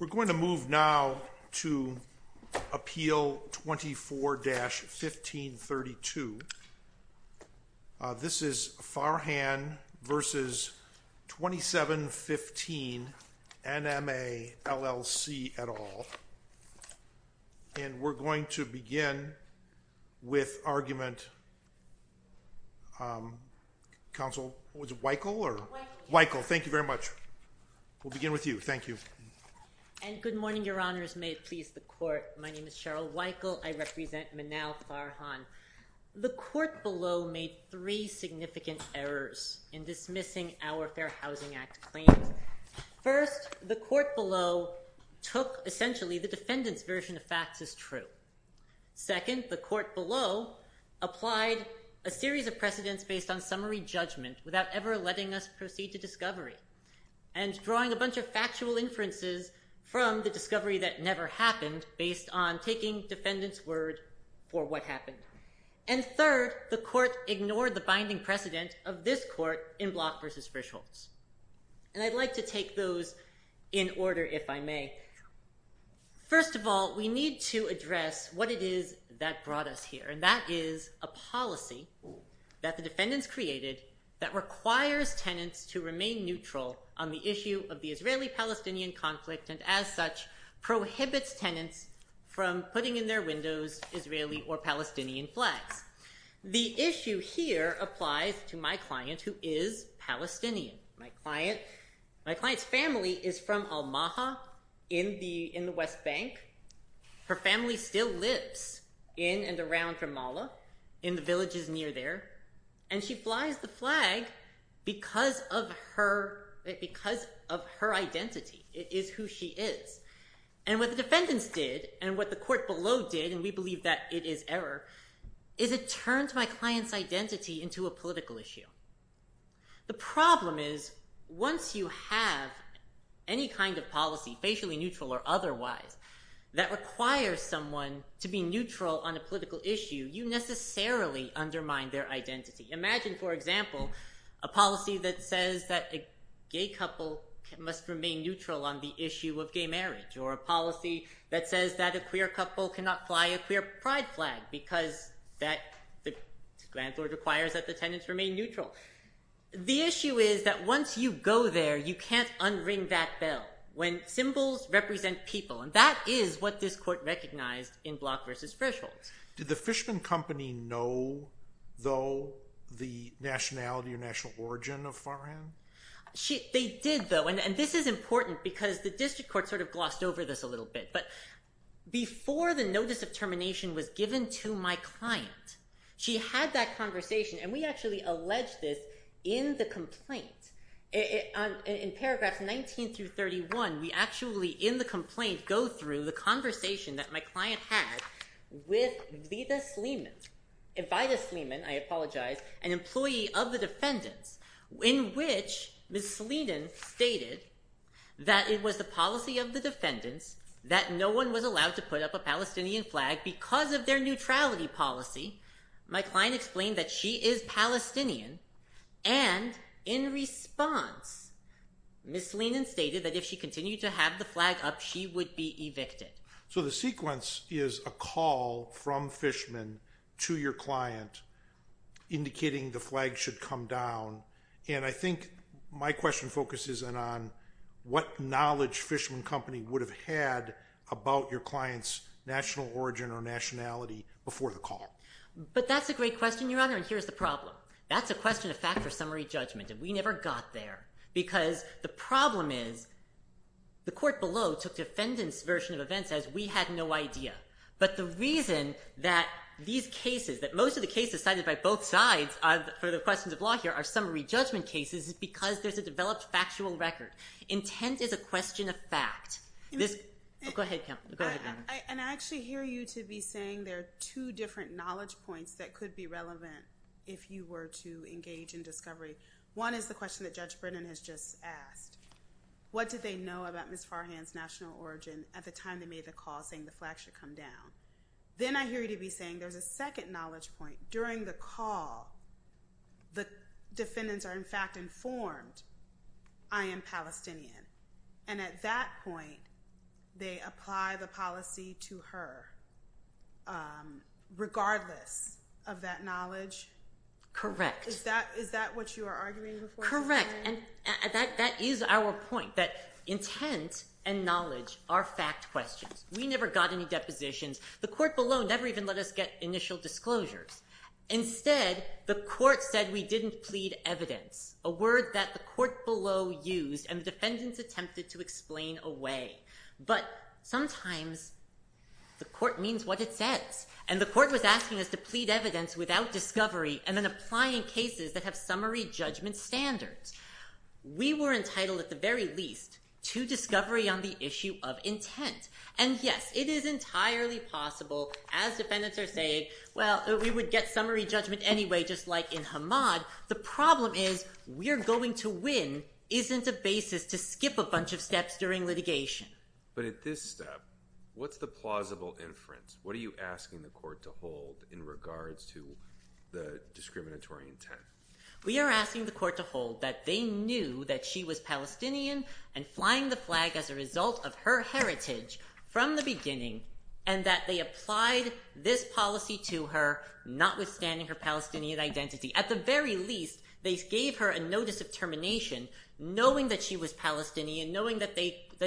We're going to move now to appeal 24-1532. This is Farhan v. 2715 NMA LLC et al. And we're going to begin with argument. Counsel, was it Weichel or? Weichel. Weichel, thank you very much. We'll begin with you, thank you. And good morning, your honors. May it please the court. My name is Cheryl Weichel. I represent Manal Farhan. The court below made three significant errors in dismissing our Fair Housing Act claims. First, the court below took essentially the defendant's version of facts as true. Second, the court below applied a series of precedents based on summary judgment without ever letting us proceed to discovery. And drawing a bunch of factual inferences from the discovery that never happened based on taking defendant's word for what happened. And third, the court ignored the binding precedent of this court in Block v. Frischholz. And I'd like to take those in order, if I may. First of all, we need to address what it is that brought us here. And that is a policy that the defendants created that requires tenants to remain neutral on the issue of the Israeli-Palestinian conflict. And as such, prohibits tenants from putting in their windows Israeli or Palestinian flags. The issue here applies to my client who is Palestinian. My client's family is from Almaha in the West Bank. Her family still lives in and around Ramallah in the villages near there. And she flies the flag because of her identity. It is who she is. And what the defendants did, and what the court below did, and we believe that it is error, is it turned my client's identity into a political issue. The problem is, once you have any kind of policy, facially neutral or otherwise, that requires someone to be neutral on a political issue, you necessarily undermine their identity. Imagine, for example, a policy that says that a gay couple must remain neutral on the issue of gay marriage. Or a policy that says that a queer couple cannot fly a queer pride flag because the landlord requires that the tenants remain neutral. The issue is that once you go there, you can't unring that bell. When symbols represent people. And that is what this court recognized in Block v. Thresholds. Did the Fishman Company know, though, the nationality or national origin of Farhan? They did, though. And this is important because the district court sort of glossed over this a little bit. But before the notice of termination was given to my client, she had that conversation. And we actually allege this in the complaint. In paragraphs 19 through 31, we actually, in the complaint, go through the conversation that my client had with Vida Sleeman, I apologize, an employee of the defendants, in which Ms. Sleeman stated that it was the policy of the defendants that no one was allowed to put up a Palestinian flag because of their neutrality policy. My client explained that she is Palestinian. And in response, Ms. Sleeman stated that if she continued to have the flag up, she would be evicted. So the sequence is a call from Fishman to your client indicating the flag should come down. And I think my question focuses then on what knowledge Fishman Company would have had about your client's national origin or nationality before the call. But that's a great question, Your Honor. And here's the problem. That's a question of fact or summary judgment. And we never got there because the problem is the court below took defendant's version of events as we had no idea. But the reason that these cases, that most of the cases cited by both sides for the questions of law here are summary judgment cases is because there's a developed factual record. Intent is a question of fact. Go ahead, Kamala. Go ahead, Kamala. And I actually hear you to be saying there are two different knowledge points that could be relevant if you were to engage in discovery. One is the question that Judge Brennan has just asked. What did they know about Ms. Farhan's national origin at the time they made the call saying the flag should come down? Then I hear you to be saying there's a second knowledge point. During the call, the defendants are in fact informed I am Palestinian. And at that point, they apply the policy to her regardless of that knowledge. Correct. Is that what you are arguing before? Correct. And that is our point that intent and knowledge are fact questions. We never got any depositions. The court below never even let us get initial disclosures. Instead, the court said we didn't plead evidence, a word that the court below used and the defendants attempted to explain away. But sometimes the court means what it says. And the court was asking us to plead evidence without discovery and then applying cases that have summary judgment standards. We were entitled at the very least to discovery on the issue of intent. And yes, it is entirely possible as defendants are saying, well, we would get summary judgment anyway, just like in Hamad. The problem is we're going to win isn't a basis to skip a bunch of steps during litigation. But at this step, what's the plausible inference? What are you asking the court to hold in regards to the discriminatory intent? We are asking the court to hold that they knew that she was Palestinian and flying the flag as a result of her heritage from the beginning and that they applied this policy to her notwithstanding her Palestinian identity. At the very least, they gave her a notice of termination knowing that she was Palestinian, knowing that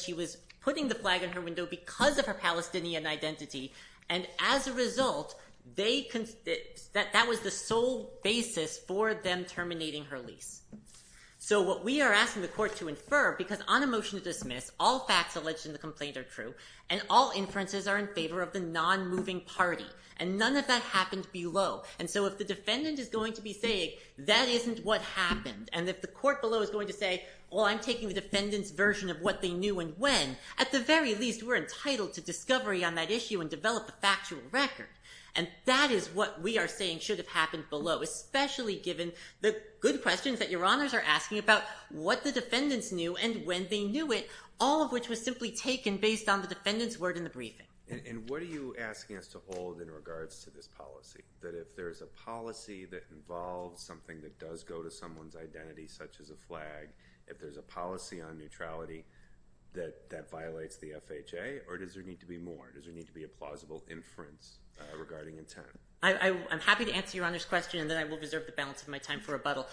she was putting the flag in her window because of her Palestinian identity. And as a result, that was the sole basis for them terminating her lease. So what we are asking the court to infer, because on a motion to dismiss, all facts alleged in the complaint are true and all inferences are in favor of the non-moving party and none of that happened below. And so if the defendant is going to be saying that isn't what happened and if the court below is going to say, well, I'm taking the defendant's version of what they knew and when, at the very least, we're entitled to discovery on that issue and develop a factual record. And that is what we are saying should have happened below, especially given the good questions that your honors are asking about what the defendants knew and when they knew it, all of which was simply taken based on the defendant's word in the briefing. And what are you asking us to hold in regards to this policy? That if there's a policy that involves something that does go to someone's identity, such as a flag, if there's a policy on neutrality that violates the FHA, or does there need to be more? Does there need to be a plausible inference regarding intent? I'm happy to answer your honor's question and then I will reserve the balance of my time for rebuttal.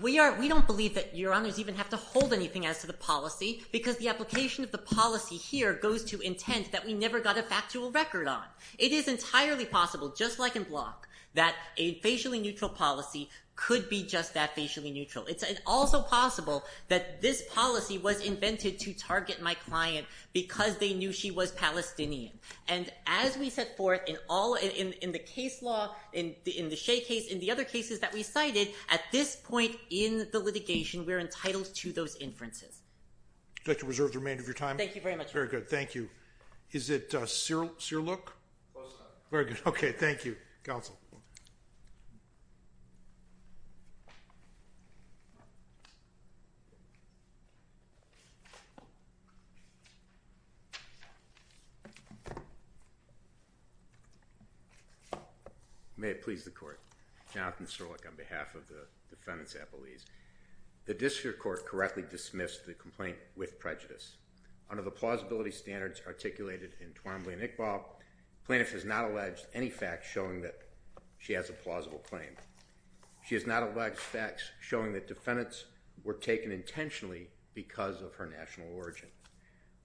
We don't believe that your honors even have to hold anything as to the policy because the application of the policy here goes to intent that we never got a factual record on. It is entirely possible, just like in Block, that a facially neutral policy could be just that facially neutral. It's also possible that this policy was invented to target my client because they knew she was Palestinian. And as we set forth in the case law, in the Shea case, in the other cases that we cited, at this point in the litigation, we're entitled to those inferences. I'd like to reserve the remainder of your time. Thank you very much. Very good, thank you. Is it Sirleck? Close enough. Very good, okay, thank you. Counsel. May it please the court. Jonathan Sirleck on behalf of the defendant's appellees. The district court correctly dismissed the complaint with prejudice. Under the plausibility standards articulated in Twombly and Iqbal, plaintiff has not alleged any facts showing that she has a plausible claim. She has not alleged facts showing that defendants were taken intentionally because of her national origin.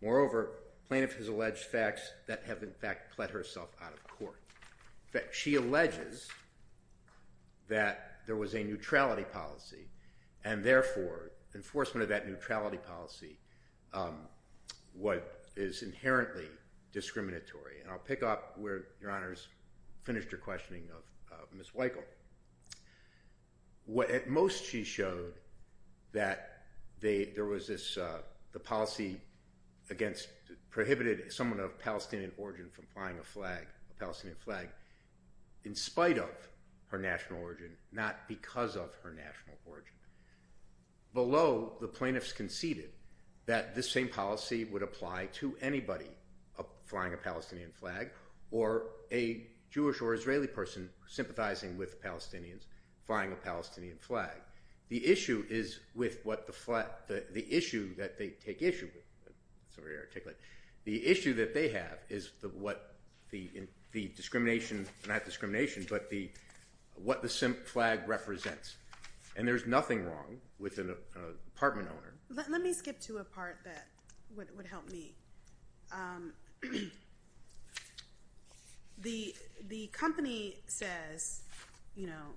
Moreover, plaintiff has alleged facts that have in fact pled herself out of court. In fact, she alleges that there was a neutrality policy and therefore enforcement of that neutrality policy what is inherently discriminatory. And I'll pick up where your honors finished her questioning of Ms. Weichel. What at most she showed that there was this, the policy against, prohibited someone of Palestinian origin from flying a flag, a Palestinian flag, in spite of her national origin, not because of her national origin. Below, the plaintiffs conceded that this same policy would apply to anybody flying a Palestinian flag or a Jewish or Israeli person sympathizing with Palestinians flying a Palestinian flag. The issue is with what the flag, the issue that they take issue with. The issue that they have is what the discrimination, not discrimination, but what the flag represents. And there's nothing wrong with an apartment owner. Let me skip to a part that would help me. The company says, you know,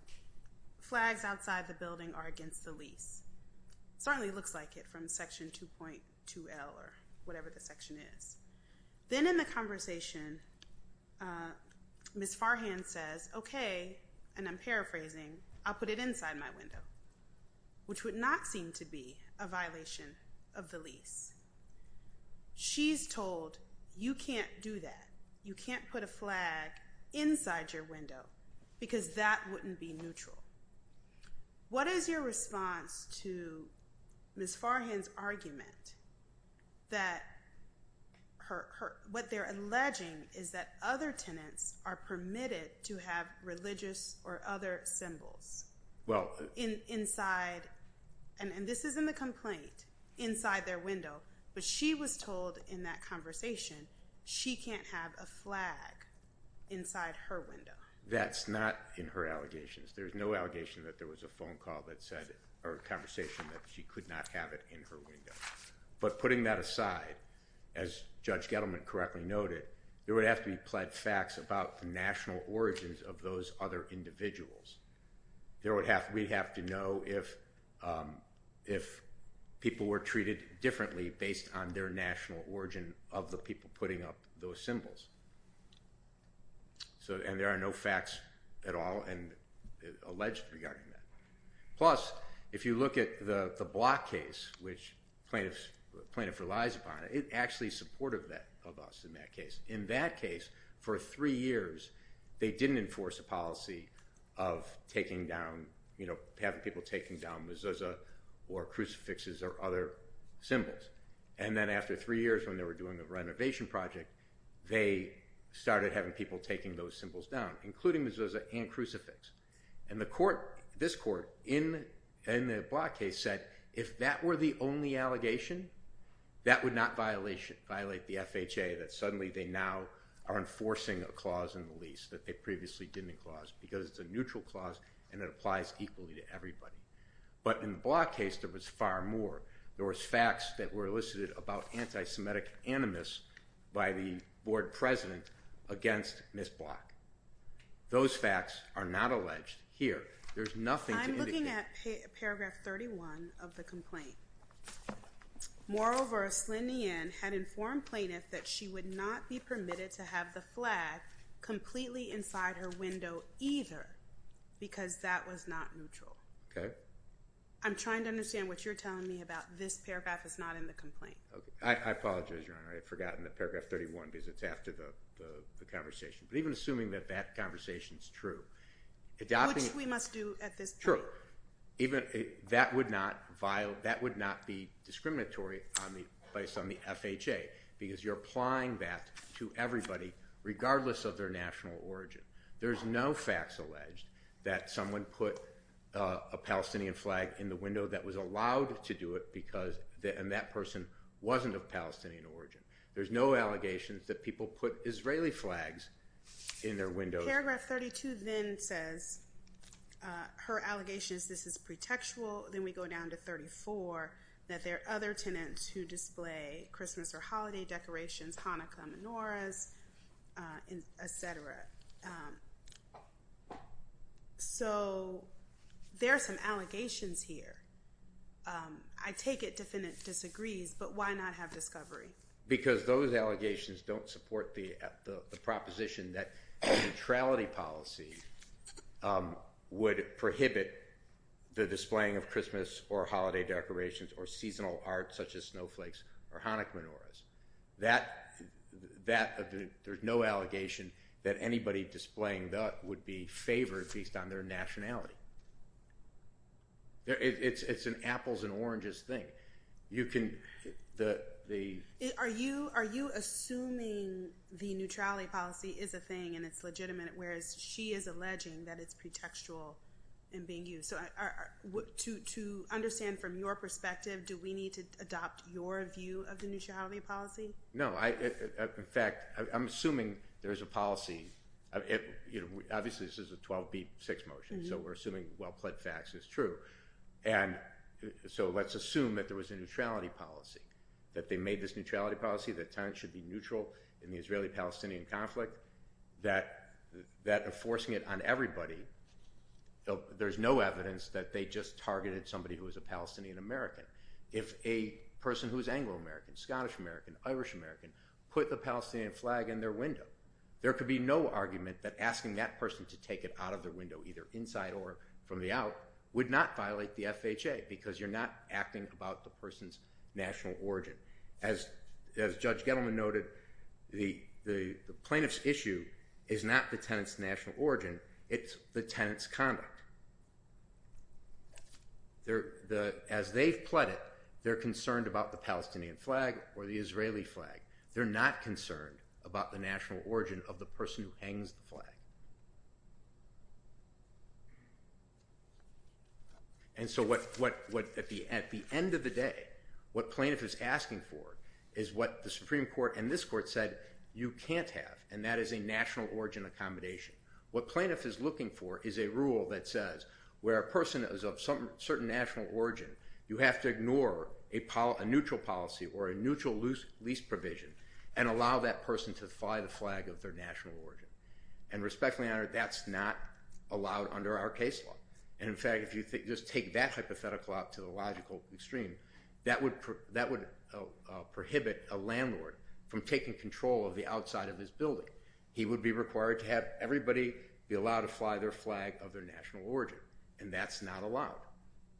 flags outside the building are against the lease. Certainly looks like it from section 2.2L or whatever the section is. Then in the conversation, Ms. Farhan says, OK, and I'm paraphrasing, I'll put it inside my window, which would not seem to be a violation of the lease. She's told you can't do that. You can't put a flag inside your window because that wouldn't be neutral. What is your response to Ms. Farhan's argument that what they're alleging is that other tenants are permitted to have religious or other symbols? Well, inside, and this is in the complaint, inside their window. But she was told in that conversation, she can't have a flag inside her window. That's not in her allegations. There's no allegation that there was a phone call that said or conversation that she could not have it in her window. But putting that aside, as Judge Gettleman correctly noted, there would have to be pled facts about the national origins of those other individuals. We'd have to know if people were treated differently based on their national origin of the people putting up those symbols. And there are no facts at all and alleged regarding that. Plus, if you look at the Block case, which plaintiff relies upon, it actually supported that of us in that case. In that case, for three years, they didn't enforce a policy of taking down, having people taking down mezuzah or crucifixes or other symbols. And then after three years, when they were doing a renovation project, they started having people taking those symbols down, including mezuzah and crucifix. And the court, this court in the Block case said, if that were the only allegation, that would not violate the FHA that suddenly they now are enforcing a clause in the lease that they previously didn't clause because it's a neutral clause and it applies equally to everybody. But in the Block case, there was far more. There was facts that were elicited about anti-Semitic animus by the board president against Ms. Block. Those facts are not alleged here. There's nothing to indicate. Paragraph 31 of the complaint. Moreover, Slyndian had informed plaintiff that she would not be permitted to have the flag completely inside her window either because that was not neutral. Okay. I'm trying to understand what you're telling me about this paragraph is not in the complaint. Okay. I apologize, Your Honor. I've forgotten the paragraph 31 because it's after the conversation. But even assuming that that conversation is true, adopting... Which we must do at this point. True. That would not be discriminatory based on the FHA because you're applying that to everybody regardless of their national origin. There's no facts alleged that someone put a Palestinian flag in the window that was allowed to do it and that person wasn't of Palestinian origin. There's no allegations that people put Israeli flags in their windows. Paragraph 32 then says, her allegations, this is pretextual. Then we go down to 34 that there are other tenants who display Christmas or holiday decorations, Hanukkah menorahs, et cetera. So there are some allegations here. I take it defendant disagrees, but why not have discovery? Because those allegations don't support the proposition that neutrality policy would prohibit the displaying of Christmas or holiday decorations or seasonal art such as snowflakes or Hanukkah menorahs. There's no allegation that anybody displaying that would be favored based on their nationality. It's an apples and oranges thing. Are you assuming the neutrality policy is a thing and it's legitimate whereas she is alleging that it's pretextual in being used? To understand from your perspective, do we need to adopt your view of the neutrality policy? No. In fact, I'm assuming there's a policy. Obviously, this is a 12B6 motion. So we're assuming well-plaid facts is true. And so let's assume that there was a neutrality policy, that they made this neutrality policy that tenants should be neutral in the Israeli-Palestinian conflict that enforcing it on everybody. There's no evidence that they just targeted somebody who is a Palestinian-American. If a person who is Anglo-American, Scottish-American, Irish-American put the Palestinian flag in their window, there could be no argument that asking that person to take it out of their window either inside or from the out would not violate the FHA because you're not acting about the person's national origin. As Judge Gettleman noted, the plaintiff's issue is not the tenant's national origin, it's the tenant's conduct. As they've pledged, they're concerned about the Palestinian flag or the Israeli flag. They're not concerned about the national origin of the person who hangs the flag. And so at the end of the day, what plaintiff is asking for is what the Supreme Court and this court said you can't have, and that is a national origin accommodation. What plaintiff is looking for is a rule that says where a person is of certain national origin, you have to ignore a neutral policy or a neutral lease provision and allow that person to fly the flag of their national origin. And respectfully, Your Honor, that's not allowed under our case law. And in fact, if you just take that hypothetical out to the logical extreme, that would prohibit a landlord from taking control of the outside of his building. He would be required to have everybody be allowed to fly their flag of their national origin, and that's not allowed.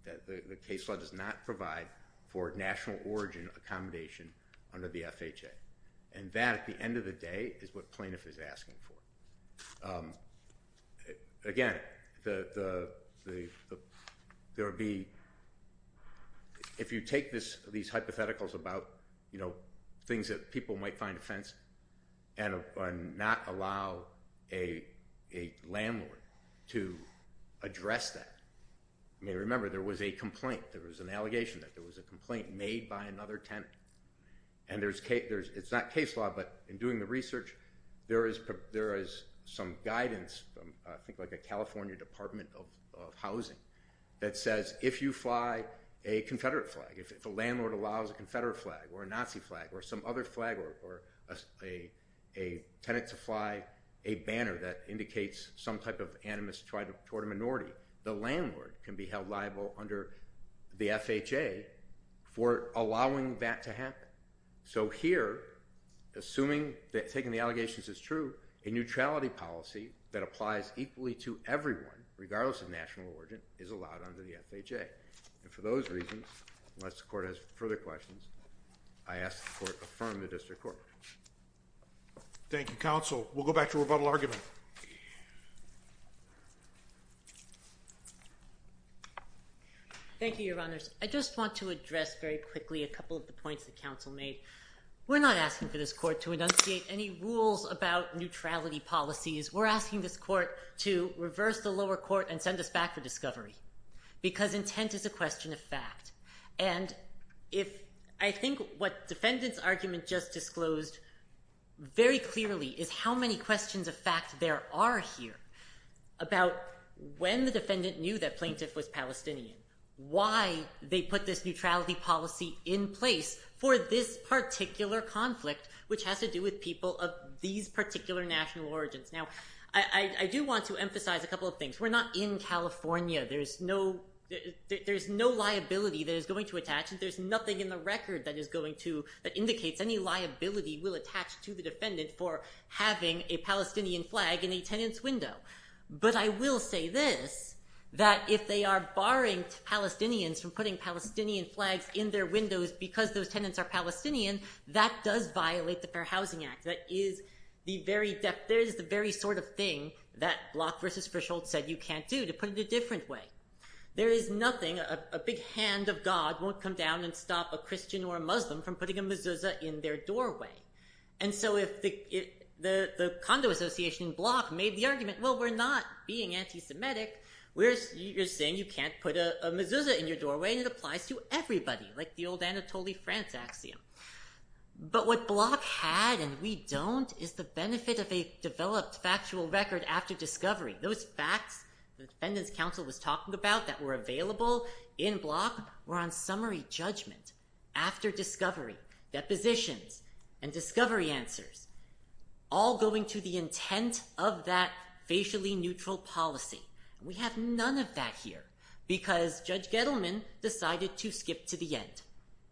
The case law does not provide for national origin accommodation under the FHA. And that, at the end of the day, is what plaintiff is asking for. Again, if you take these hypotheticals out, things that people might find offensive, and not allow a landlord to address that. I mean, remember, there was a complaint. There was an allegation that there was a complaint made by another tenant. And it's not case law, but in doing the research, there is some guidance from I think like a California Department of Housing that says if you fly a Confederate flag, if a landlord allows a Confederate flag, or a Nazi flag, or some other flag, or a tenant to fly a banner that indicates some type of animus toward a minority, the landlord can be held liable under the FHA for allowing that to happen. So here, assuming that taking the allegations is true, a neutrality policy that applies equally to everyone, regardless of national origin, is allowed under the FHA. And for those reasons, unless the court has further questions, I ask the court affirm the district court. Thank you, counsel. We'll go back to rebuttal argument. Thank you, your honors. I just want to address very quickly a couple of the points that counsel made. We're not asking for this court to enunciate any rules about neutrality policies. We're asking this court to reverse the lower court and send us back for discovery because intent is a question of fact. And if I think what defendant's argument just disclosed very clearly is how many questions of fact there are here about when the defendant knew that plaintiff was Palestinian, why they put this neutrality policy in place for this particular conflict, which has to do with people of these particular national origins. Now, I do want to emphasize a couple of things. We're not in California. There's no liability. There's nothing in the record that indicates any liability will attach to the defendant for having a Palestinian flag in a tenant's window. But I will say this, that if they are barring Palestinians from putting Palestinian flags in their windows because those tenants are Palestinian, that does violate the Fair Housing Act. That is the very sort of thing that Bloch versus Frischholtz said you can't do to put it a different way. There is nothing, a big hand of God won't come down and stop a Christian or a Muslim from putting a mezuzah in their doorway. And so if the condo association in Bloch made the argument, well, we're not being anti-Semitic. We're saying you can't put a mezuzah in your doorway and it applies to everybody, like the old Anatoly France axiom. But what Bloch had and we don't is the benefit of a developed factual record after discovery. Those facts, the defendant's counsel was talking about that were available in Bloch were on summary judgment after discovery, depositions and discovery answers, all going to the intent of that facially neutral policy. We have none of that here because Judge Gettleman decided to skip to the end.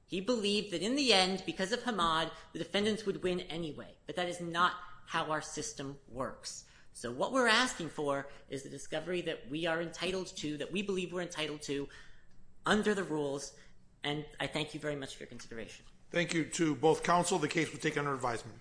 He believed that in the end because of Hamad, the defendants would win anyway. But that is not how our system works. So what we're asking for is the discovery that we are entitled to, that we believe we're entitled to under the rules. And I thank you very much for your consideration. Thank you to both counsel. The case was taken under advisement.